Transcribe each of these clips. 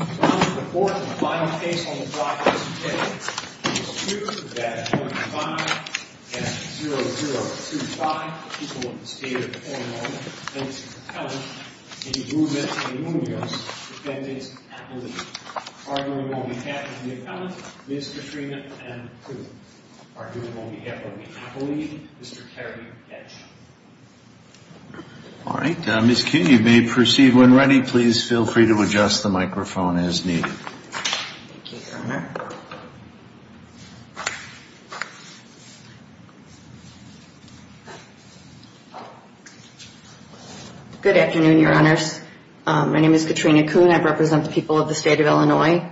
on behalf of the appellant, Ms. Katrina, and Mr. Terry H. Kuhn. Ms. Kuhn, you may proceed when ready. Please feel free to adjust the microphone as needed. Thank you, Your Honor. Good afternoon, Your Honors. My name is Katrina Kuhn. I represent the people of the state of Illinois.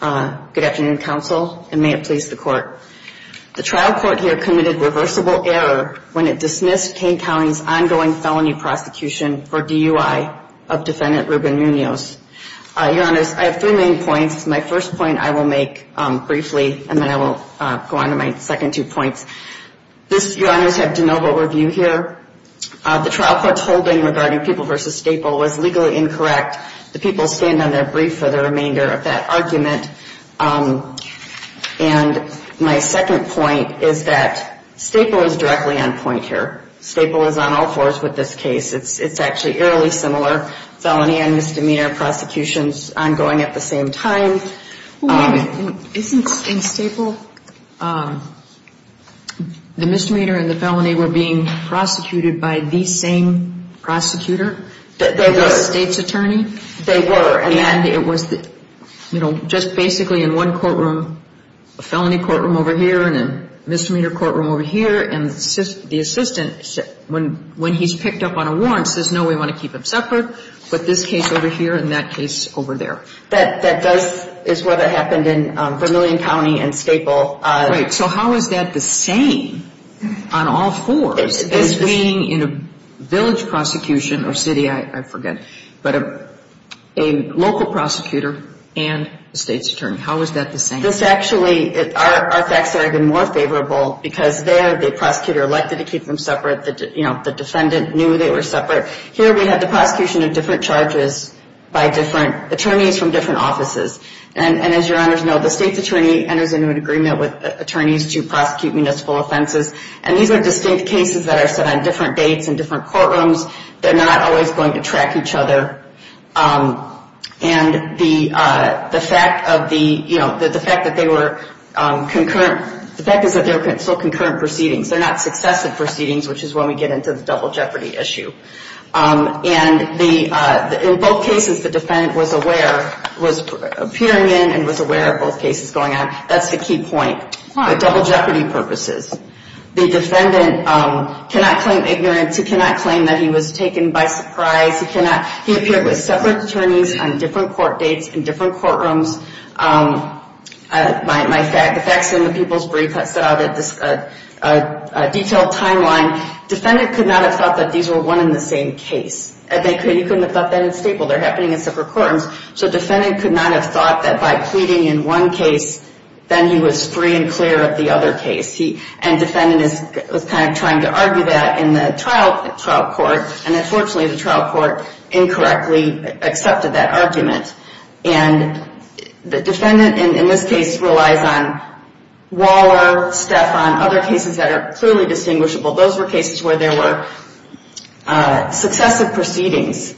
Good afternoon, counsel, and may it please the court. The trial court here committed reversible error when it dismissed Kane County's ongoing felony prosecution for DUI of defendant Reuben Munoz. Your Honors, I have three main points. My first point I will make briefly, and then I will go on to my second two points. This, Your Honors, had de novo review here. The trial court's holding regarding People v. Staple was legally incorrect. The people stand on their brief for the remainder of that argument. And my second point is that Staple is directly on point here. Staple is on all fours with this case. It's actually eerily similar. Felony and misdemeanor prosecutions ongoing at the same time. Isn't in Staple, the misdemeanor and the felony were being prosecuted by the same prosecutor? They were. The state's attorney? They were. And it was, you know, just basically in one courtroom, a felony courtroom over here and a misdemeanor courtroom over here. And the assistant, when he's picked up on a warrant, says, no, we want to keep them separate. But this case over here and that case over there. That does, is what happened in Vermillion County and Staple. Right. So how is that the same on all fours as being in a village prosecution or city, I forget, but a local prosecutor and the state's attorney? How is that the same? This actually, our facts are even more favorable because there the prosecutor elected to keep them separate. You know, the defendant knew they were separate. Here we have the prosecution of different charges by different attorneys from different offices. And as your honors know, the state's attorney enters into an agreement with attorneys to prosecute municipal offenses. And these are distinct cases that are set on different dates and different courtrooms. They're not always going to track each other. And the fact of the, you know, the fact that they were concurrent, the fact is that they're still concurrent proceedings. They're not successive proceedings, which is when we get into the double jeopardy issue. And the, in both cases, the defendant was aware, was appearing in and was aware of both cases going on. That's the key point, the double jeopardy purposes. The defendant cannot claim ignorance. He cannot claim that he was taken by surprise. He cannot, he appeared with separate attorneys on different court dates in different courtrooms. My, the facts in the people's brief I set out at this detailed timeline. Defendant could not have thought that these were one and the same case. You couldn't have thought that in Staple. They're happening in separate courtrooms. So defendant could not have thought that by pleading in one case, then he was free and clear of the other case. And defendant was kind of trying to argue that in the trial court. And unfortunately, the trial court incorrectly accepted that argument. And the defendant in this case relies on Waller, Stephan, other cases that are clearly distinguishable. Those were cases where there were successive proceedings.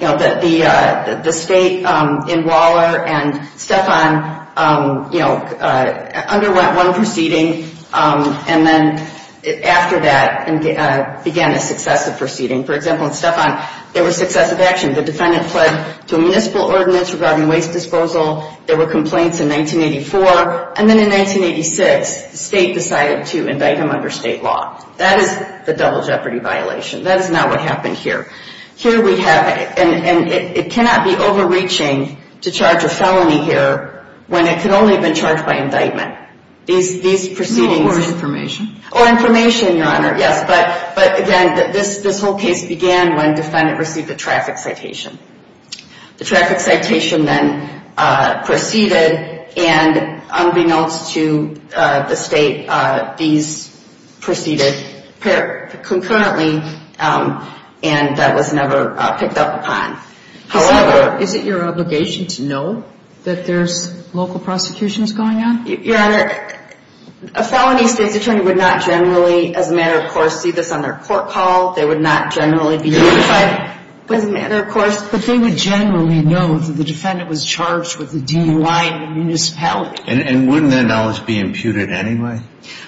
You know, the state in Waller and Stephan, you know, underwent one proceeding. And then after that began a successive proceeding. For example, in Stephan, there were successive actions. Again, the defendant fled to a municipal ordinance regarding waste disposal. There were complaints in 1984. And then in 1986, the state decided to indict him under state law. That is the double jeopardy violation. That is not what happened here. Here we have, and it cannot be overreaching to charge a felony here when it could only have been charged by indictment. These proceedings. Or information. Or information, Your Honor, yes. But again, this whole case began when defendant received a traffic citation. The traffic citation then proceeded. And unbeknownst to the state, these proceeded concurrently. And that was never picked up upon. However. Is it your obligation to know that there's local prosecutions going on? Your Honor, a felony state's attorney would not generally, as a matter of course, see this on their court call. They would not generally be notified, as a matter of course. But they would generally know that the defendant was charged with a DUI in a municipality. And wouldn't that knowledge be imputed anyway?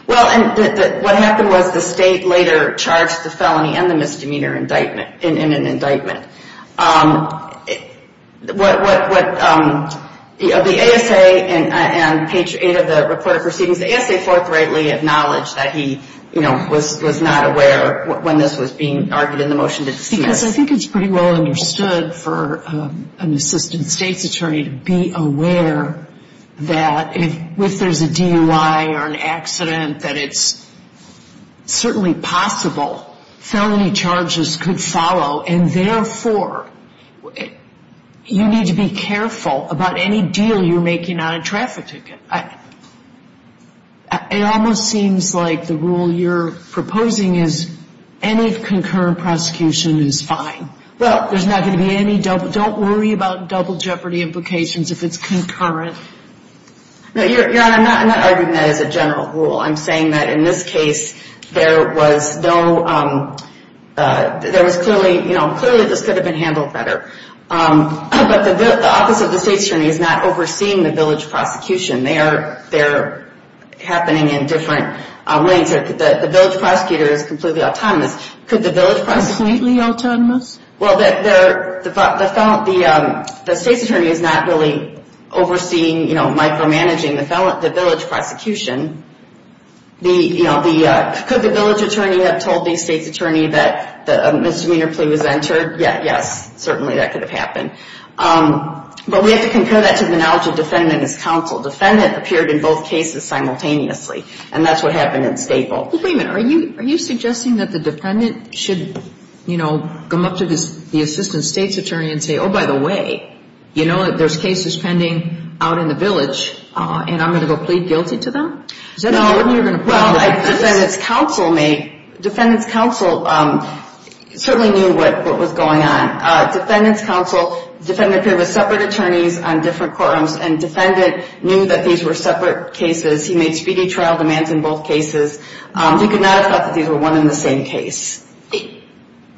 Well, what happened was the state later charged the felony and the misdemeanor in an indictment. The ASA and page 8 of the report of proceedings, the ASA forthrightly acknowledged that he, you know, was not aware when this was being argued in the motion. Because I think it's pretty well understood for an assistant state's attorney to be aware that if there's a DUI or an accident, that it's certainly possible felony charges could follow. And therefore, you need to be careful about any deal you're making on a traffic ticket. It almost seems like the rule you're proposing is any concurrent prosecution is fine. Well, there's not going to be any double. Don't worry about double jeopardy implications if it's concurrent. No, Your Honor, I'm not arguing that as a general rule. I'm saying that in this case, there was no, there was clearly, you know, clearly this could have been handled better. But the office of the state's attorney is not overseeing the village prosecution. They're happening in different ways. The village prosecutor is completely autonomous. Completely autonomous? Well, the state's attorney is not really overseeing, you know, micromanaging the village prosecution. You know, could the village attorney have told the state's attorney that a misdemeanor plea was entered? Yes, certainly that could have happened. But we have to concur that to the knowledge of defendant as counsel. Defendant appeared in both cases simultaneously. And that's what happened in Staple. Well, wait a minute, are you suggesting that the defendant should, you know, come up to the assistant state's attorney and say, oh, by the way, you know, there's cases pending out in the village, and I'm going to go plead guilty to them? No. Well, defendant's counsel may, defendant's counsel certainly knew what was going on. Defendant's counsel, defendant appeared with separate attorneys on different courtrooms. And defendant knew that these were separate cases. He made speedy trial demands in both cases. He could not have thought that these were one and the same case.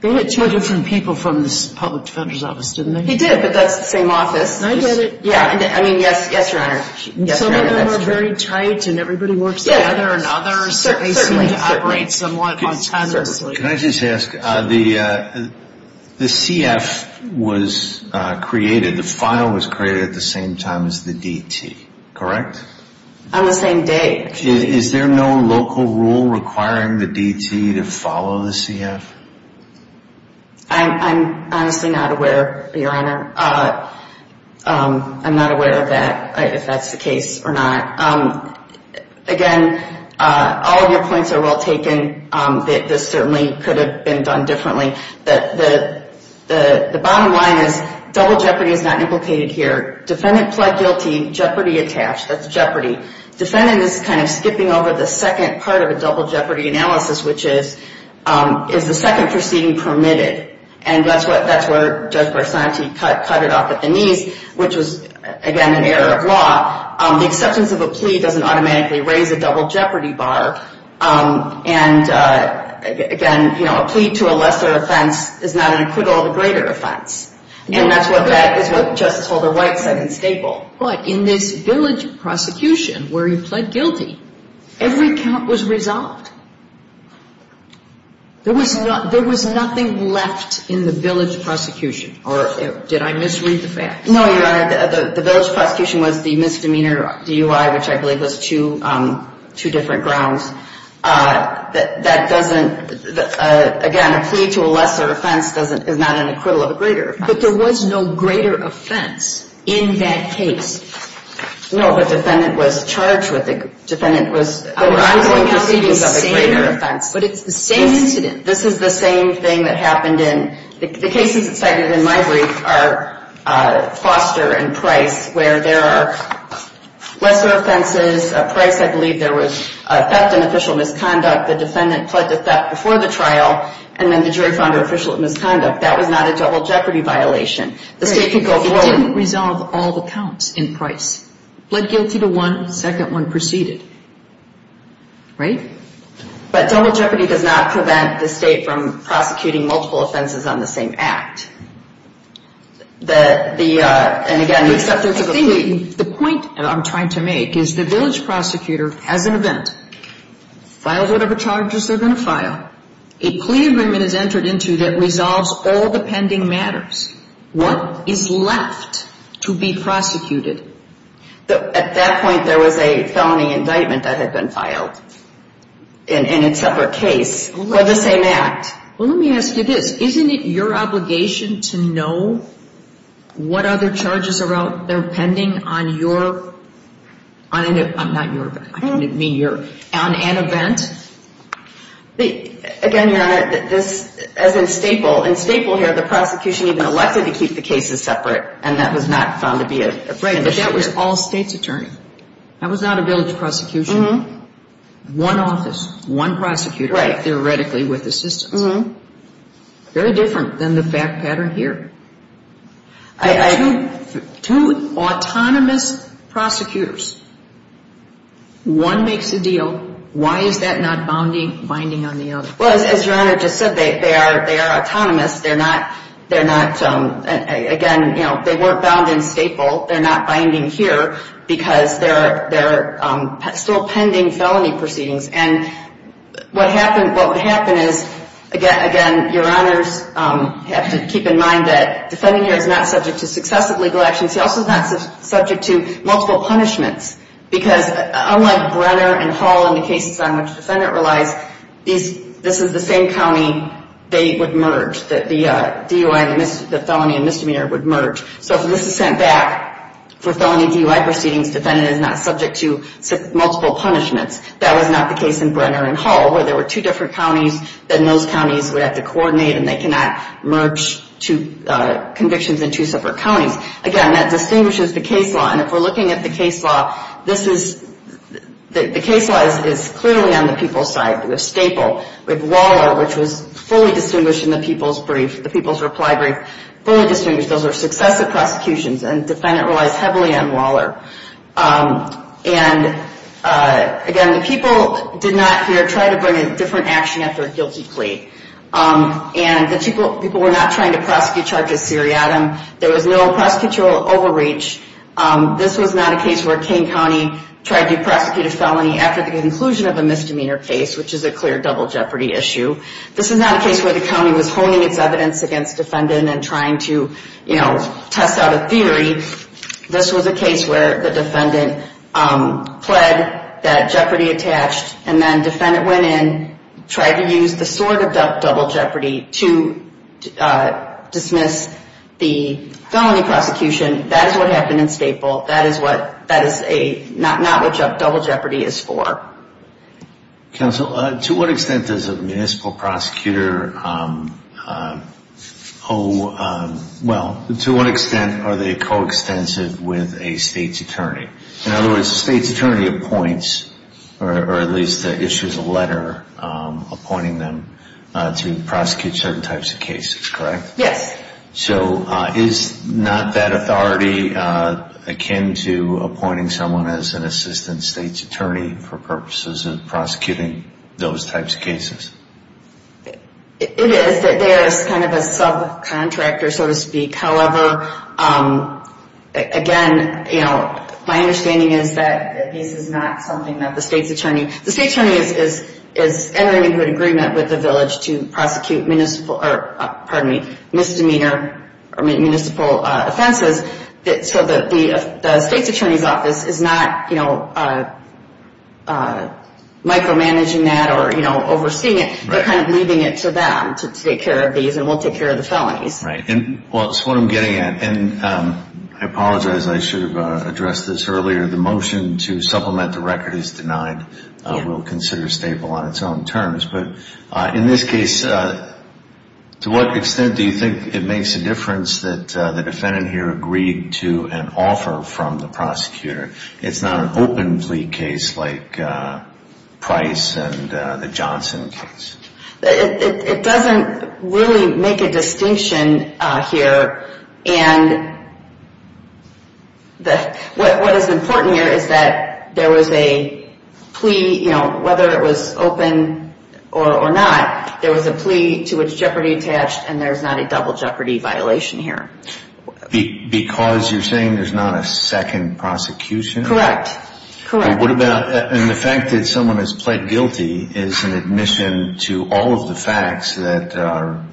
They had two different people from the public defender's office, didn't they? He did, but that's the same office. I get it. Yeah, I mean, yes, Your Honor. Some of them are very tight, and everybody works together. And others certainly seem to operate somewhat autonomously. Can I just ask, the CF was created, the file was created at the same time as the DT, correct? On the same day. Is there no local rule requiring the DT to follow the CF? I'm honestly not aware, Your Honor. I'm not aware of that, if that's the case or not. Again, all of your points are well taken. This certainly could have been done differently. The bottom line is double jeopardy is not implicated here. Defendant pled guilty, jeopardy attached. That's jeopardy. Defendant is kind of skipping over the second part of a double jeopardy analysis, which is, is the second proceeding permitted? And that's where Judge Barsanti cut it off at the knees, which was, again, an error of law. The acceptance of a plea doesn't automatically raise a double jeopardy bar. And, again, you know, a plea to a lesser offense is not an acquittal of a greater offense. And that's what Justice Holder White said in Staple. But in this village prosecution where he pled guilty, every count was resolved. There was nothing left in the village prosecution. Or did I misread the facts? No, Your Honor. The village prosecution was the misdemeanor DUI, which I believe was two different grounds. That doesn't, again, a plea to a lesser offense is not an acquittal of a greater offense. But there was no greater offense in that case. No. The defendant was charged with it. The defendant was ongoing proceedings of a greater offense. But it's the same incident. This is the same thing that happened in the cases cited in my brief are Foster and Price, where there are lesser offenses. At Price, I believe there was theft and official misconduct. The defendant pled to theft before the trial, and then the jury found her official at misconduct. That was not a double jeopardy violation. The state could go forward. It didn't resolve all the counts in Price. Pled guilty to one, second one preceded. Right? But double jeopardy does not prevent the state from prosecuting multiple offenses on the same act. And, again, except there's a plea. The point I'm trying to make is the village prosecutor has an event, filed whatever charges they're going to file, a plea agreement is entered into that resolves all the pending matters. What is left to be prosecuted? At that point, there was a felony indictment that had been filed in a separate case for the same act. Well, let me ask you this. Isn't it your obligation to know what other charges are out there pending on your I'm not your, I didn't mean your, on an event? Again, Your Honor, this, as in Staple, in Staple here, the prosecution even elected to keep the cases separate, and that was not found to be a condition here. Right, but that was all state's attorney. That was not a village prosecution. One office, one prosecutor. Right. Theoretically with assistance. Very different than the fact pattern here. Two autonomous prosecutors. One makes a deal. Why is that not binding on the other? Well, as Your Honor just said, they are autonomous. They're not, again, they weren't bound in Staple. They're not binding here because there are still pending felony proceedings, and what would happen is, again, Your Honors have to keep in mind that the defendant here is not subject to successive legal actions. He also is not subject to multiple punishments, because unlike Brenner and Hull in the cases on which the defendant relies, this is the same county they would merge, the DUI, the felony and misdemeanor would merge. So if this is sent back for felony DUI proceedings, the defendant is not subject to multiple punishments. That was not the case in Brenner and Hull, where there were two different counties, then those counties would have to coordinate, and they cannot merge convictions in two separate counties. Again, that distinguishes the case law, and if we're looking at the case law, the case law is clearly on the people's side with Staple. With Waller, which was fully distinguished in the people's brief, the people's reply brief, fully distinguished. Those are successive prosecutions, and the defendant relies heavily on Waller. And again, the people did not here try to bring a different action after a guilty plea. And the people were not trying to prosecute charges seriatim. There was no prosecutorial overreach. This was not a case where Kane County tried to prosecute a felony after the conclusion of a misdemeanor case, which is a clear double jeopardy issue. This is not a case where the county was honing its evidence against the defendant and trying to, you know, test out a theory. This was a case where the defendant pled that jeopardy attached, and then the defendant went in, tried to use the sword of double jeopardy to dismiss the felony prosecution. That is what happened in Staple. That is not what double jeopardy is for. Counsel, to what extent does a municipal prosecutor owe, well, to what extent are they co-extensive with a state's attorney? In other words, the state's attorney appoints, or at least issues a letter appointing them to prosecute certain types of cases, correct? Yes. So is not that authority akin to appointing someone as an assistant state's attorney for purposes of prosecuting those types of cases? It is. There is kind of a subcontractor, so to speak. However, again, you know, my understanding is that this is not something that the state's attorney, the state's attorney is entering into an agreement with the village to prosecute municipal, or pardon me, misdemeanor municipal offenses, so the state's attorney's office is not, you know, micromanaging that or, you know, overseeing it. They're kind of leaving it to them to take care of these, and we'll take care of the felonies. Right. Well, that's what I'm getting at, and I apologize. I should have addressed this earlier. The motion to supplement the record is denied. We'll consider a staple on its own terms, but in this case, to what extent do you think it makes a difference that the defendant here agreed to an offer from the prosecutor? It's not an open plea case like Price and the Johnson case. It doesn't really make a distinction here, and what is important here is that there was a plea, you know, whether it was open or not, there was a plea to which jeopardy attached, and there's not a double jeopardy violation here. Because you're saying there's not a second prosecution? Correct. Correct. And the fact that someone has pled guilty is an admission to all of the facts that are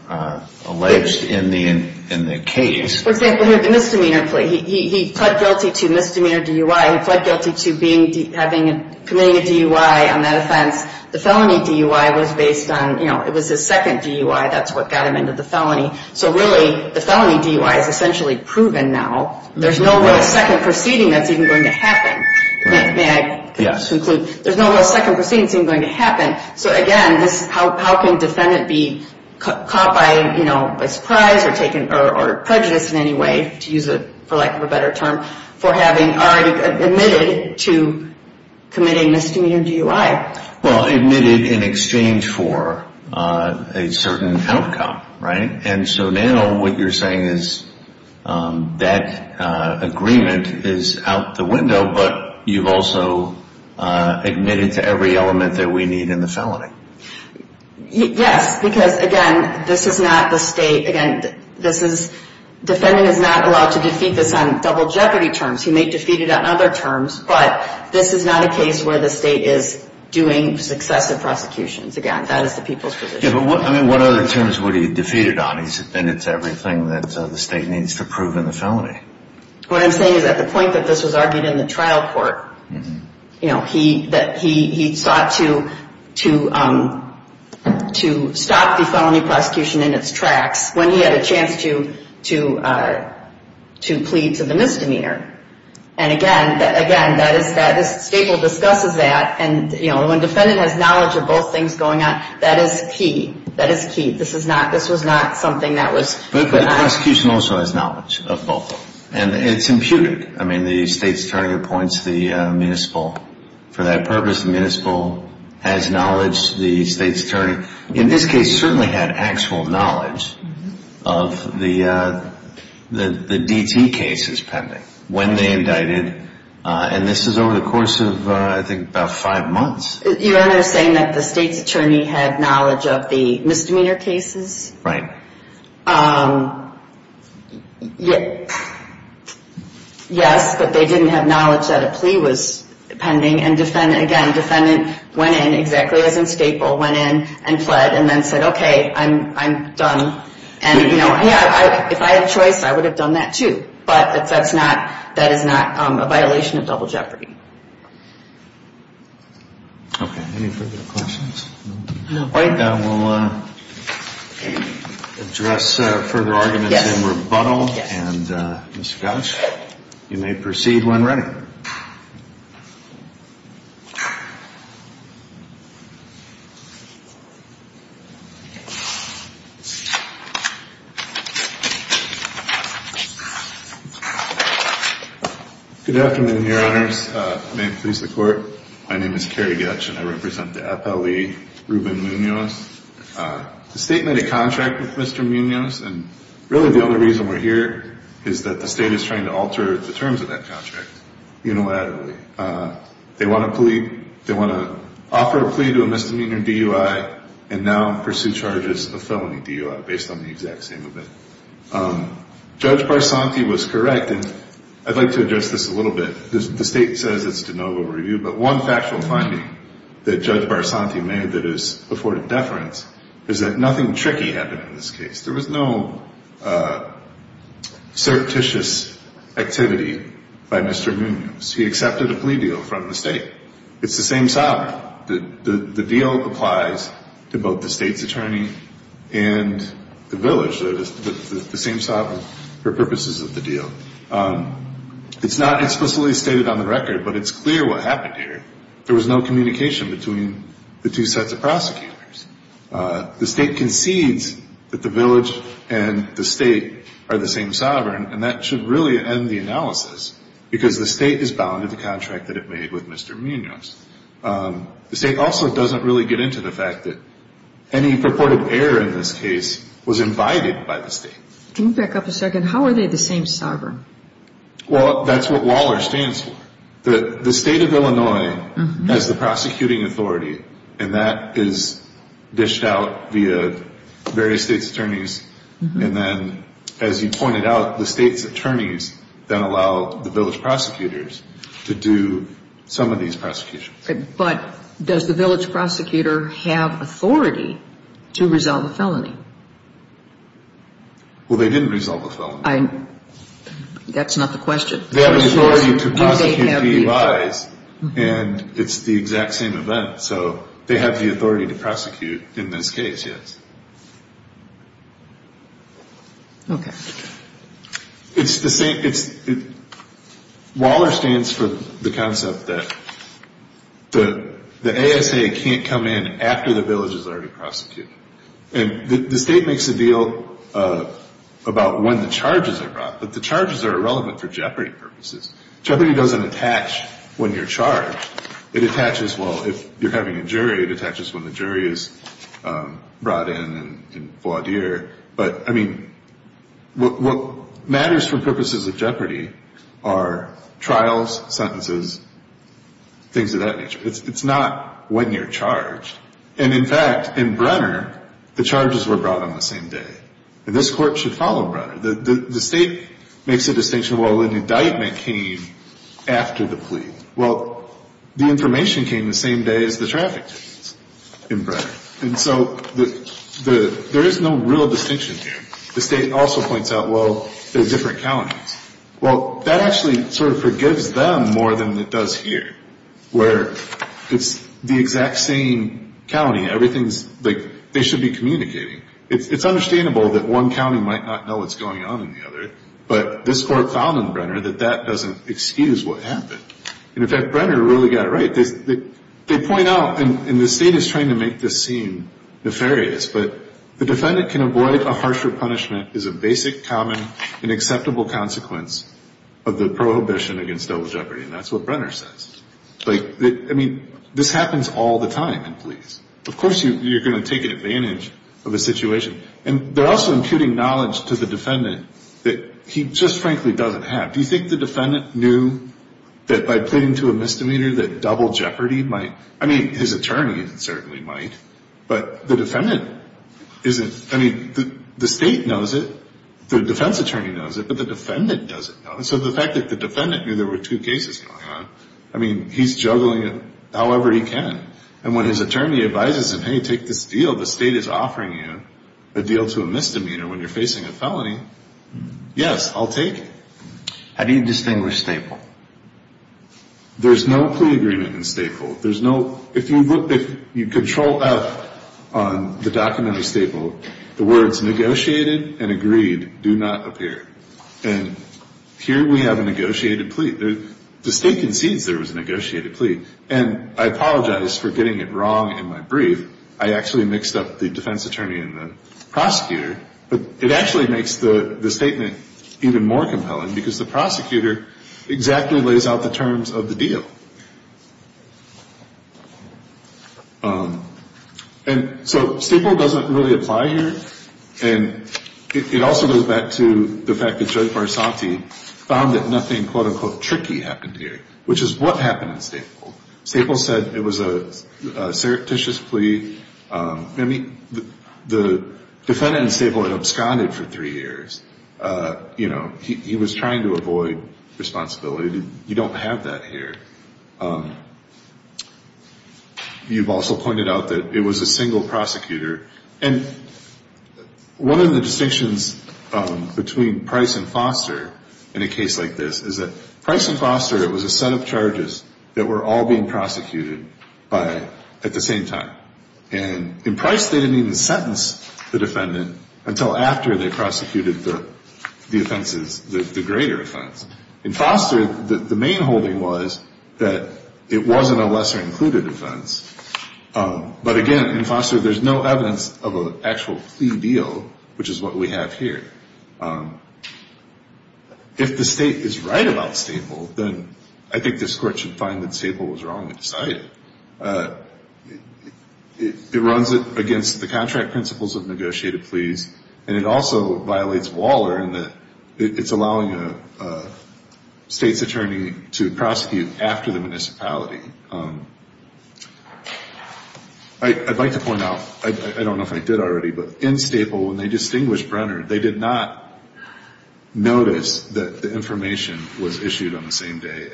alleged in the case. For example, here, the misdemeanor plea. He pled guilty to misdemeanor DUI. He pled guilty to committing a DUI on that offense. The felony DUI was based on, you know, it was his second DUI. That's what got him into the felony. So really, the felony DUI is essentially proven now. There's no real second proceeding that's even going to happen. May I conclude? There's no real second proceeding that's even going to happen. So, again, how can a defendant be caught by, you know, surprise or prejudice in any way, to use it for lack of a better term, for having already admitted to committing misdemeanor DUI? Well, admitted in exchange for a certain outcome, right? And so now what you're saying is that agreement is out the window, but you've also admitted to every element that we need in the felony. Yes, because, again, this is not the state. Again, defendant is not allowed to defeat this on double jeopardy terms. He may defeat it on other terms, but this is not a case where the state is doing successive prosecutions. Again, that is the people's position. Yeah, but what other terms would he defeat it on? He's admitted to everything that the state needs to prove in the felony. What I'm saying is at the point that this was argued in the trial court, you know, that he sought to stop the felony prosecution in its tracks when he had a chance to plead to the misdemeanor. And, again, this statement discusses that, and, you know, when defendant has knowledge of both things going on, that is key. That is key. This was not something that was— But the prosecution also has knowledge of both, and it's imputed. I mean, the state's attorney appoints the municipal for that purpose. The municipal has knowledge. The state's attorney in this case certainly had actual knowledge of the DT cases pending when they indicted. And this is over the course of, I think, about five months. You're saying that the state's attorney had knowledge of the misdemeanor cases? Right. Yes, but they didn't have knowledge that a plea was pending, and, again, defendant went in exactly as in Staple, went in and fled, and then said, okay, I'm done. And, you know, if I had a choice, I would have done that, too. But that is not a violation of double jeopardy. Okay. Any further questions? No. All right. Then we'll address further arguments in rebuttal. And, Mr. Goetsch, you may proceed when ready. Good afternoon, Your Honors. May it please the Court, my name is Kerry Goetsch, and I represent the FLE Ruben Munoz. The state made a contract with Mr. Munoz, and really the only reason we're here is that the state is trying to alter the terms of that contract unilaterally. They want to offer a plea to a misdemeanor DUI and now pursue charges of felony DUI based on the exact same event. Judge Barsanti was correct, and I'd like to address this a little bit. The state says it's de novo review, but one factual finding that Judge Barsanti made that is afforded deference is that nothing tricky happened in this case. There was no surreptitious activity by Mr. Munoz. He accepted a plea deal from the state. It's the same sovereign. The deal applies to both the state's attorney and the village. They're the same sovereign for purposes of the deal. It's not explicitly stated on the record, but it's clear what happened here. There was no communication between the two sets of prosecutors. The state concedes that the village and the state are the same sovereign, and that should really end the analysis because the state is bound to the contract that it made with Mr. Munoz. The state also doesn't really get into the fact that any purported error in this case was invited by the state. Can you back up a second? How are they the same sovereign? Well, that's what WALR stands for. The state of Illinois has the prosecuting authority, and that is dished out via various state's attorneys, and then, as you pointed out, the state's attorneys then allow the village prosecutors to do some of these prosecutions. But does the village prosecutor have authority to resolve a felony? Well, they didn't resolve a felony. That's not the question. They have the authority to prosecute DUIs, and it's the exact same event. So they have the authority to prosecute in this case, yes. Okay. It's the same. WALR stands for the concept that the ASA can't come in after the village is already prosecuted. And the state makes a deal about when the charges are brought, but the charges are irrelevant for jeopardy purposes. Jeopardy doesn't attach when you're charged. It attaches, well, if you're having a jury, it attaches when the jury is brought in and voidere. But, I mean, what matters for purposes of jeopardy are trials, sentences, things of that nature. It's not when you're charged. And, in fact, in Brenner, the charges were brought on the same day. And this court should follow Brenner. The state makes a distinction, well, an indictment came after the plea. Well, the information came the same day as the traffic case in Brenner. And so there is no real distinction here. The state also points out, well, there's different counties. Well, that actually sort of forgives them more than it does here, where it's the exact same county. Everything's, like, they should be communicating. It's understandable that one county might not know what's going on in the other, but this court found in Brenner that that doesn't excuse what happened. And, in fact, Brenner really got it right. They point out, and the state is trying to make this seem nefarious, but the defendant can avoid a harsher punishment is a basic, common, and acceptable consequence of the prohibition against double jeopardy. And that's what Brenner says. Like, I mean, this happens all the time in police. Of course you're going to take advantage of a situation. And they're also imputing knowledge to the defendant that he just, frankly, doesn't have. Do you think the defendant knew that by pleading to a misdemeanor that double jeopardy might? I mean, his attorney certainly might, but the defendant isn't. I mean, the state knows it. The defense attorney knows it, but the defendant doesn't know it. So the fact that the defendant knew there were two cases going on, I mean, he's juggling it however he can. And when his attorney advises him, hey, take this deal. The state is offering you a deal to a misdemeanor when you're facing a felony. Yes, I'll take it. How do you distinguish staple? There's no plea agreement in staple. There's no ‑‑ if you control out on the documentary staple, the words negotiated and agreed do not appear. And here we have a negotiated plea. The state concedes there was a negotiated plea. And I apologize for getting it wrong in my brief. I actually mixed up the defense attorney and the prosecutor. But it actually makes the statement even more compelling because the prosecutor exactly lays out the terms of the deal. And so staple doesn't really apply here. And it also goes back to the fact that Judge Barsanti found that nothing, quote, unquote, tricky happened here, which is what happened in staple. Staple said it was a surreptitious plea. I mean, the defendant in staple had absconded for three years. You know, he was trying to avoid responsibility. You don't have that here. You've also pointed out that it was a single prosecutor. And one of the distinctions between Price and Foster in a case like this is that Price and Foster, it was a set of charges that were all being prosecuted at the same time. And in Price, they didn't even sentence the defendant until after they prosecuted the offenses, the greater offense. In Foster, the main holding was that it wasn't a lesser included offense. But, again, in Foster, there's no evidence of an actual plea deal, which is what we have here. If the state is right about staple, then I think this court should find that staple was wrong and decide it. It runs it against the contract principles of negotiated pleas, and it also violates Waller in that it's allowing a state's attorney to prosecute after the municipality. I'd like to point out, I don't know if I did already, but in staple, when they distinguished Brenner, they did not notice that the information was issued on the same day.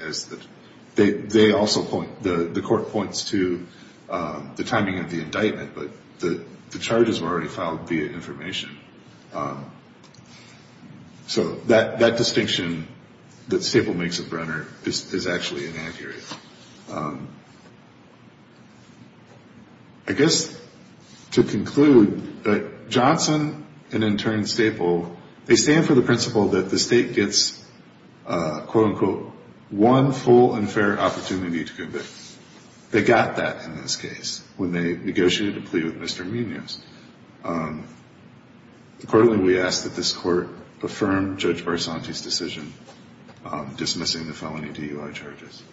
They also point, the court points to the timing of the indictment, but the charges were already filed via information. So that distinction that staple makes of Brenner is actually inaccurate. I guess to conclude, Johnson and in turn staple, they stand for the principle that the state gets, quote, unquote, one full and fair opportunity to convict. They got that in this case when they negotiated a plea with Mr. Munoz. Accordingly, we ask that this court affirm Judge Barsanti's decision dismissing the felony DUI charges.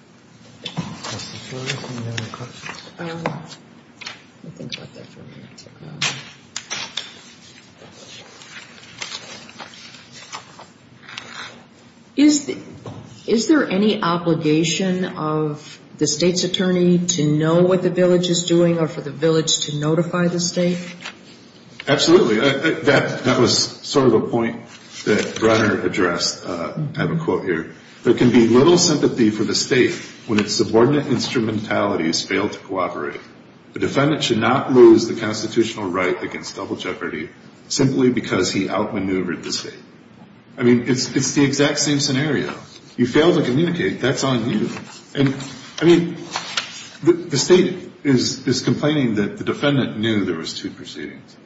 Is there any obligation of the state's attorney to know what the village is doing or for the village to notify the state? Absolutely. That was sort of a point that Brenner addressed. I have a quote here. There can be little sympathy for the state when its subordinate instrumentalities fail to cooperate. The defendant should not lose the constitutional right against double jeopardy simply because he outmaneuvered the state. I mean, it's the exact same scenario. You fail to communicate, that's on you. I mean, the state is complaining that the defendant knew there was two proceedings.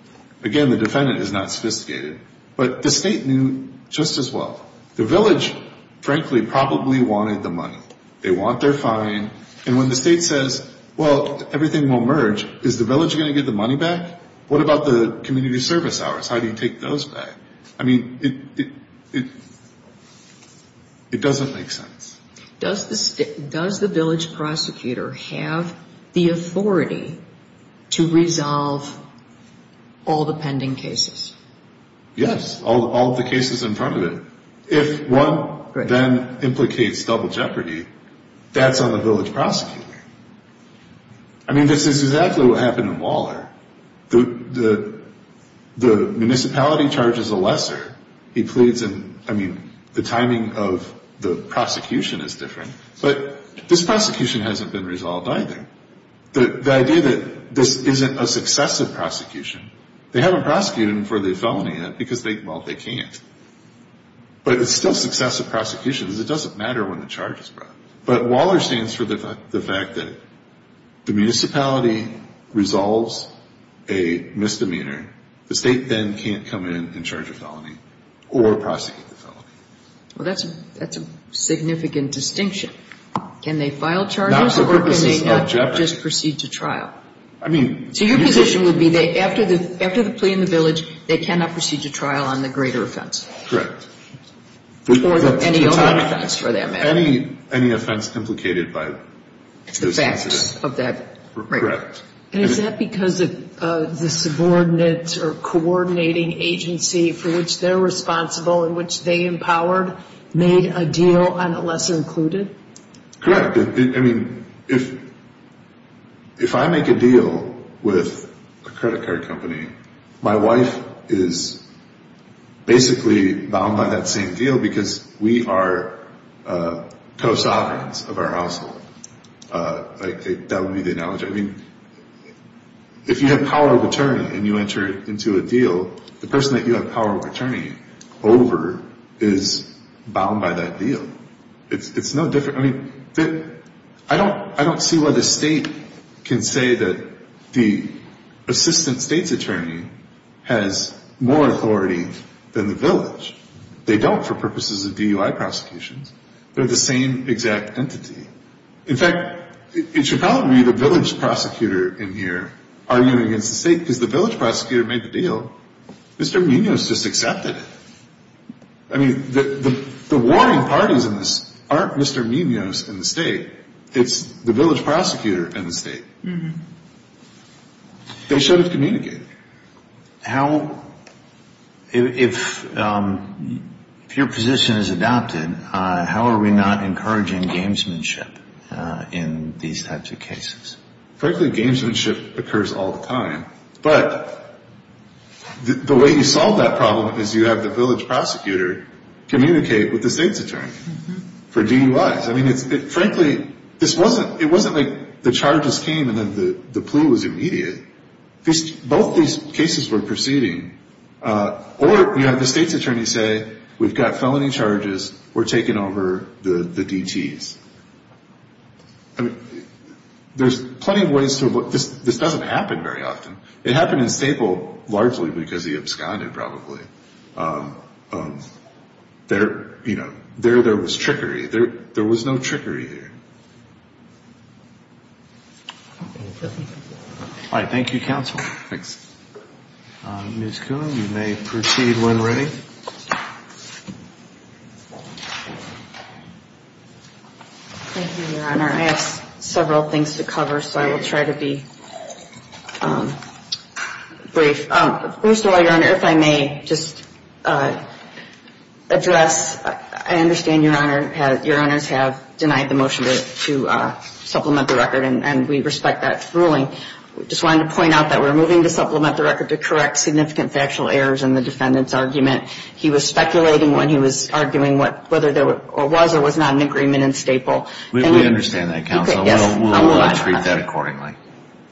Again, the defendant is not sophisticated. But the state knew just as well. The village, frankly, probably wanted the money. They want their fine. And when the state says, well, everything will merge, is the village going to get the money back? What about the community service hours? How do you take those back? I mean, it doesn't make sense. Does the village prosecutor have the authority to resolve all the pending cases? Yes, all the cases in front of it. If one then implicates double jeopardy, that's on the village prosecutor. I mean, this is exactly what happened in Waller. The municipality charges a lesser. He pleads and, I mean, the timing of the prosecution is different. But this prosecution hasn't been resolved either. The idea that this isn't a successive prosecution, they haven't prosecuted him for the felony yet because, well, they can't. But it's still successive prosecution because it doesn't matter when the charge is brought. But Waller stands for the fact that the municipality resolves a misdemeanor. The state then can't come in and charge a felony or prosecute the felony. Well, that's a significant distinction. Can they file charges or can they not just proceed to trial? So your position would be that after the plea in the village, they cannot proceed to trial on the greater offense? Correct. Or any offense for that matter. Any offense implicated by this incident. It's the facts of that. Correct. And is that because the subordinates or coordinating agency for which they're responsible and which they empowered made a deal on the lesser included? I mean, if I make a deal with a credit card company, my wife is basically bound by that same deal because we are co-sovereigns of our household. That would be the analogy. I mean, if you have power of attorney and you enter into a deal, the person that you have power of attorney over is bound by that deal. It's no different. I mean, I don't see why the state can say that the assistant state's attorney has more authority than the village. They don't for purposes of DUI prosecutions. They're the same exact entity. In fact, it should probably be the village prosecutor in here arguing against the state because the village prosecutor made the deal. Mr. Munoz just accepted it. I mean, the warning parties in this aren't Mr. Munoz and the state. It's the village prosecutor and the state. They should have communicated. If your position is adopted, how are we not encouraging gamesmanship in these types of cases? Frankly, gamesmanship occurs all the time, but the way you solve that problem is you have the village prosecutor communicate with the state's attorney for DUIs. I mean, frankly, it wasn't like the charges came and then the plea was immediate. Both these cases were proceeding, or you have the state's attorney say, we've got felony charges, we're taking over the DTs. I mean, there's plenty of ways to avoid this. This doesn't happen very often. It happened in Staple largely because he absconded probably. There was trickery. There was no trickery here. All right. Thank you, counsel. Thanks. Ms. Coon, you may proceed when ready. Thank you, Your Honor. I have several things to cover, so I will try to be brief. First of all, Your Honor, if I may just address, I understand Your Honor, Your Honors have denied the motion to supplement the record, and we respect that ruling. We just wanted to point out that we're moving to supplement the record to correct significant factual errors in the defendant's argument. He was speculating when he was arguing whether there was or was not an agreement in Staple. We understand that, counsel. We'll treat that accordingly.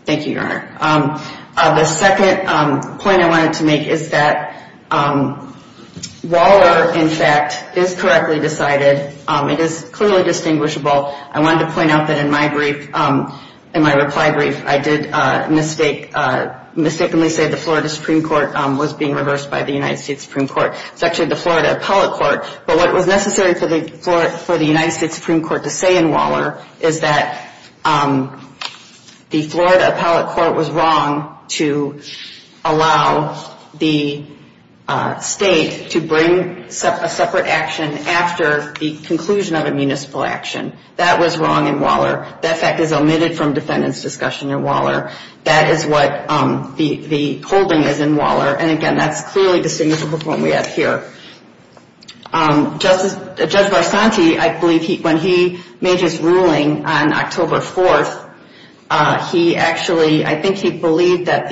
Thank you, Your Honor. The second point I wanted to make is that Waller, in fact, is correctly decided. It is clearly distinguishable. I wanted to point out that in my brief, in my reply brief, I did mistakenly say the Florida Supreme Court was being reversed by the United States Supreme Court. It's actually the Florida Appellate Court. But what was necessary for the United States Supreme Court to say in Waller is that the Florida Appellate Court was wrong to allow the state to bring a separate action after the conclusion of a municipal action. That was wrong in Waller. That fact is omitted from defendant's discussion in Waller. That is what the holding is in Waller. And, again, that's clearly distinguishable from what we have here. Judge Barsanti, I believe, when he made his ruling on October 4th, he actually, I think he believed that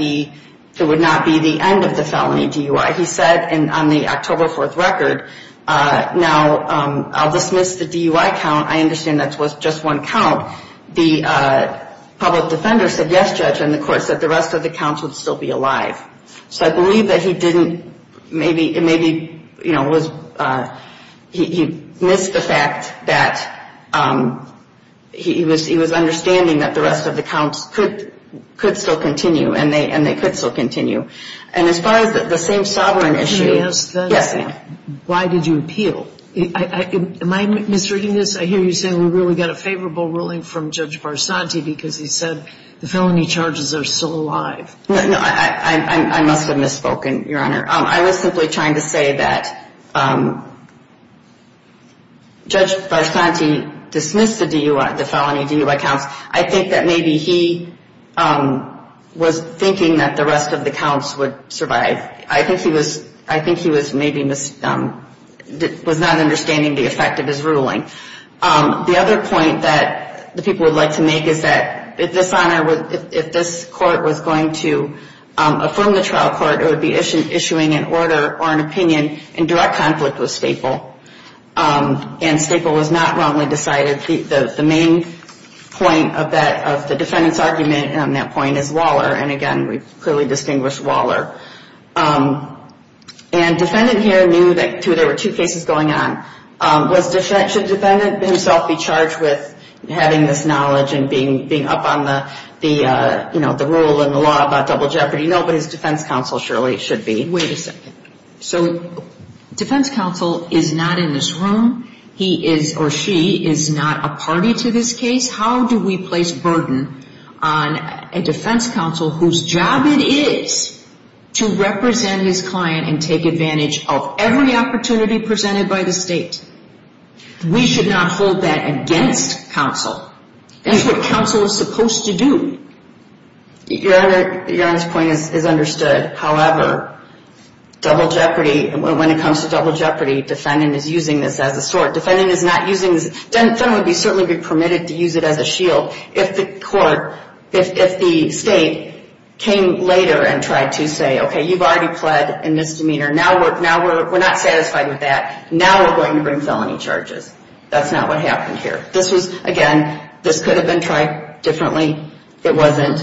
there would not be the end of the felony DUI. He said on the October 4th record, now, I'll dismiss the DUI count. I understand that was just one count. The public defender said yes, Judge, and the court said the rest of the counts would still be alive. So I believe that he didn't maybe, you know, he missed the fact that he was understanding that the rest of the counts could still continue and they could still continue. And as far as the same sovereign issue. Can I ask that? Yes, ma'am. Why did you appeal? Am I misreading this? I hear you saying we really got a favorable ruling from Judge Barsanti because he said the felony charges are still alive. No, I must have misspoken, Your Honor. I was simply trying to say that Judge Barsanti dismissed the DUI, the felony DUI counts. I think that maybe he was thinking that the rest of the counts would survive. I think he was, I think he was maybe, was not understanding the effect of his ruling. The other point that the people would like to make is that if this honor, if this court was going to affirm the trial court, it would be issuing an order or an opinion in direct conflict with Staple. And Staple was not wrongly decided. The main point of that, of the defendant's argument on that point is Waller. And again, we clearly distinguished Waller. And defendant here knew that there were two cases going on. Should defendant himself be charged with having this knowledge and being up on the, you know, the rule and the law about double jeopardy? No, but his defense counsel surely should be. Wait a second. So defense counsel is not in this room. He is or she is not a party to this case. How do we place burden on a defense counsel whose job it is to represent his client and take advantage of every opportunity presented by the state? We should not hold that against counsel. That's what counsel is supposed to do. Your Honor's point is understood. However, double jeopardy, when it comes to double jeopardy, defendant is using this as a sword. Defendant is not using this. Defendant would certainly be permitted to use it as a shield if the court, if the state came later and tried to say, okay, you've already pled in misdemeanor. Now we're not satisfied with that. Now we're going to bring felony charges. That's not what happened here. This was, again, this could have been tried differently. It wasn't.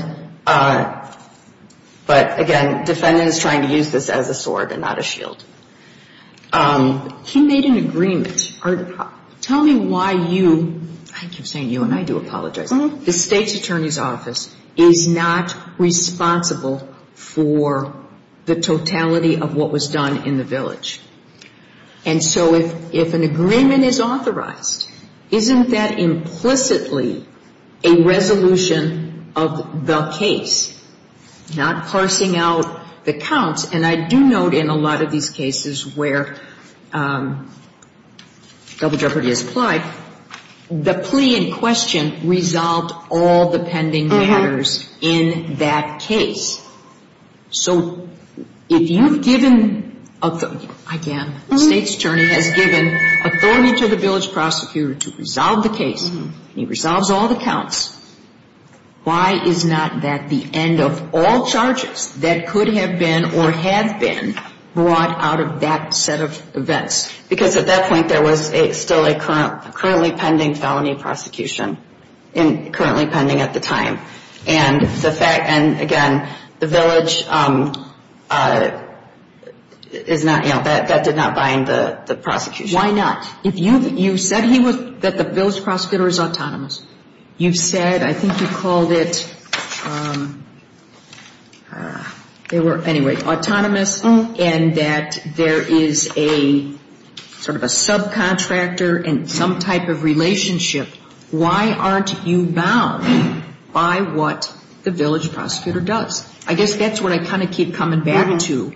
But, again, defendant is trying to use this as a sword and not a shield. He made an agreement. Tell me why you, I keep saying you and I do apologize, the state's attorney's office is not responsible for the totality of what was done in the village. And so if an agreement is authorized, isn't that implicitly a resolution of the case, not parsing out the counts? And I do note in a lot of these cases where double jeopardy is applied, the plea in question resolved all the pending matters in that case. So if you've given, again, the state's attorney has given authority to the village prosecutor to resolve the case, and he resolves all the counts, why is not that the end of all charges that could have been or have been brought out of that set of events? Because at that point there was still a currently pending felony prosecution, currently pending at the time. And, again, the village is not, you know, that did not bind the prosecution. Why not? You said that the village prosecutor is autonomous. You said, I think you called it, they were, anyway, autonomous, and that there is a sort of a subcontractor and some type of relationship. Why aren't you bound by what the village prosecutor does? I guess that's what I kind of keep coming back to.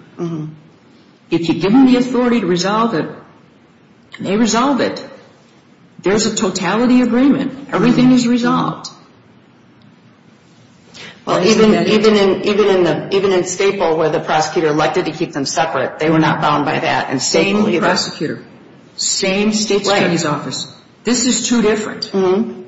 If you've given the authority to resolve it, they resolve it. There's a totality agreement. Everything is resolved. Well, even in Staple where the prosecutor elected to keep them separate, they were not bound by that. Same prosecutor. Same state's attorney's office. This is two different,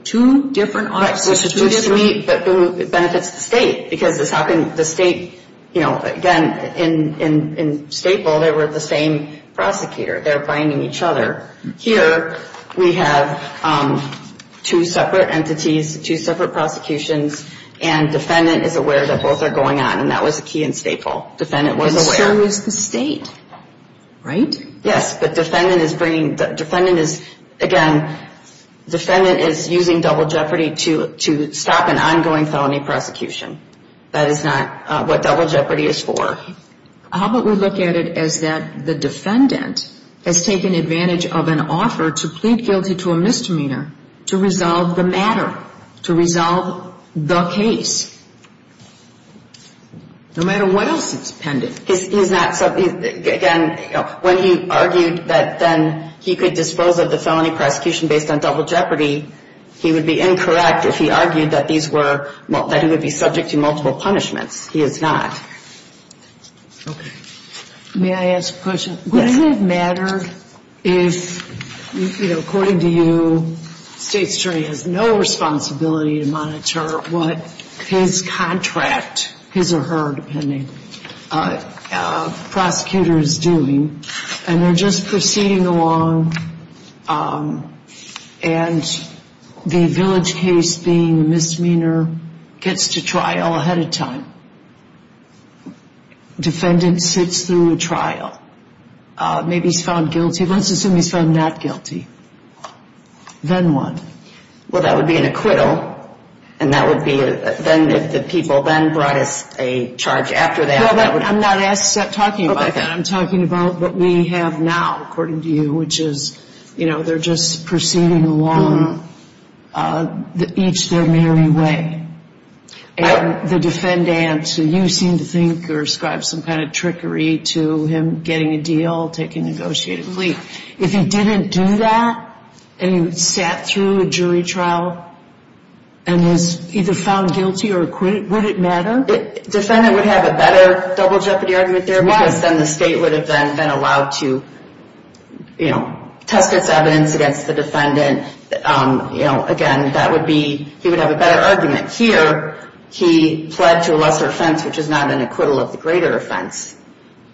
two different offices. It benefits the state because the state, you know, again, in Staple they were the same prosecutor. They're binding each other. Here we have two separate entities, two separate prosecutions, and defendant is aware that both are going on, and that was the key in Staple. Defendant was aware. And so is the state, right? Yes. But defendant is bringing, defendant is, again, defendant is using double jeopardy to stop an ongoing felony prosecution. That is not what double jeopardy is for. How about we look at it as that the defendant has taken advantage of an offer to plead guilty to a misdemeanor, to resolve the matter, to resolve the case. No matter what else he's pending. He's not, again, when he argued that then he could dispose of the felony prosecution based on double jeopardy, he would be incorrect if he argued that these were, that he would be subject to multiple punishments. He is not. Okay. May I ask a question? Yes. Does it matter if, you know, according to you, the state attorney has no responsibility to monitor what his contract, his or her, depending, prosecutor is doing, and they're just proceeding along and the village case being a misdemeanor gets to trial ahead of time. Defendant sits through a trial. Maybe he's found guilty. Let's assume he's found not guilty. Then what? Well, that would be an acquittal. And that would be, then the people then brought us a charge after that. No, I'm not talking about that. I'm talking about what we have now, according to you, which is, you know, they're just proceeding along each their merry way. And the defendant, you seem to think or ascribe some kind of trickery to him getting a deal, taking a negotiated plea. If he didn't do that and he sat through a jury trial and was either found guilty or acquitted, would it matter? Defendant would have a better double jeopardy argument there because then the state would have then been allowed to, you know, test its evidence against the defendant. You know, again, that would be, he would have a better argument here. He pled to a lesser offense, which is not an acquittal of the greater offense.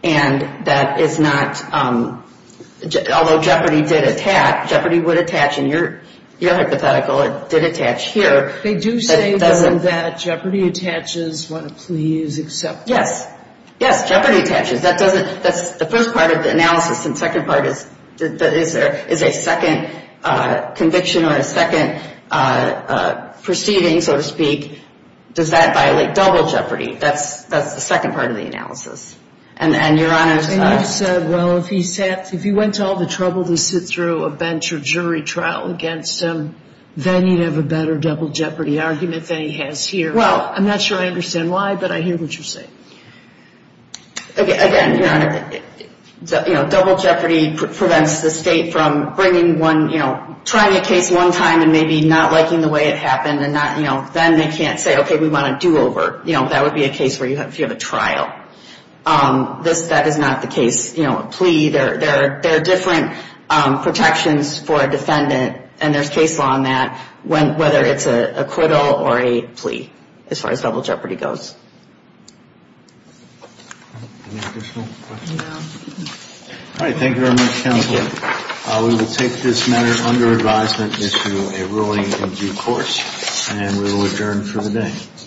And that is not, although jeopardy did attach, jeopardy would attach in your hypothetical, it did attach here. They do say, though, that jeopardy attaches when a plea is accepted. Yes. Yes, jeopardy attaches. That doesn't, that's the first part of the analysis. And the second part is, is there, is a second conviction or a second proceeding, so to speak, does that violate double jeopardy? That's the second part of the analysis. And, Your Honor. And you said, well, if he sat, if he went to all the trouble to sit through a bench or jury trial against him, then he'd have a better double jeopardy argument than he has here. Well, I'm not sure I understand why, but I hear what you're saying. Okay, again, Your Honor, you know, double jeopardy prevents the state from bringing one, you know, trying a case one time and maybe not liking the way it happened and not, you know, then they can't say, okay, we want a do-over. You know, that would be a case where you have, if you have a trial. This, that is not the case. You know, a plea, there are different protections for a defendant, and there's case law on that, whether it's a acquittal or a plea, as far as double jeopardy goes. Any additional questions? All right. Thank you very much, counsel. We will take this matter under advisement into a ruling in due course, and we will adjourn for the day.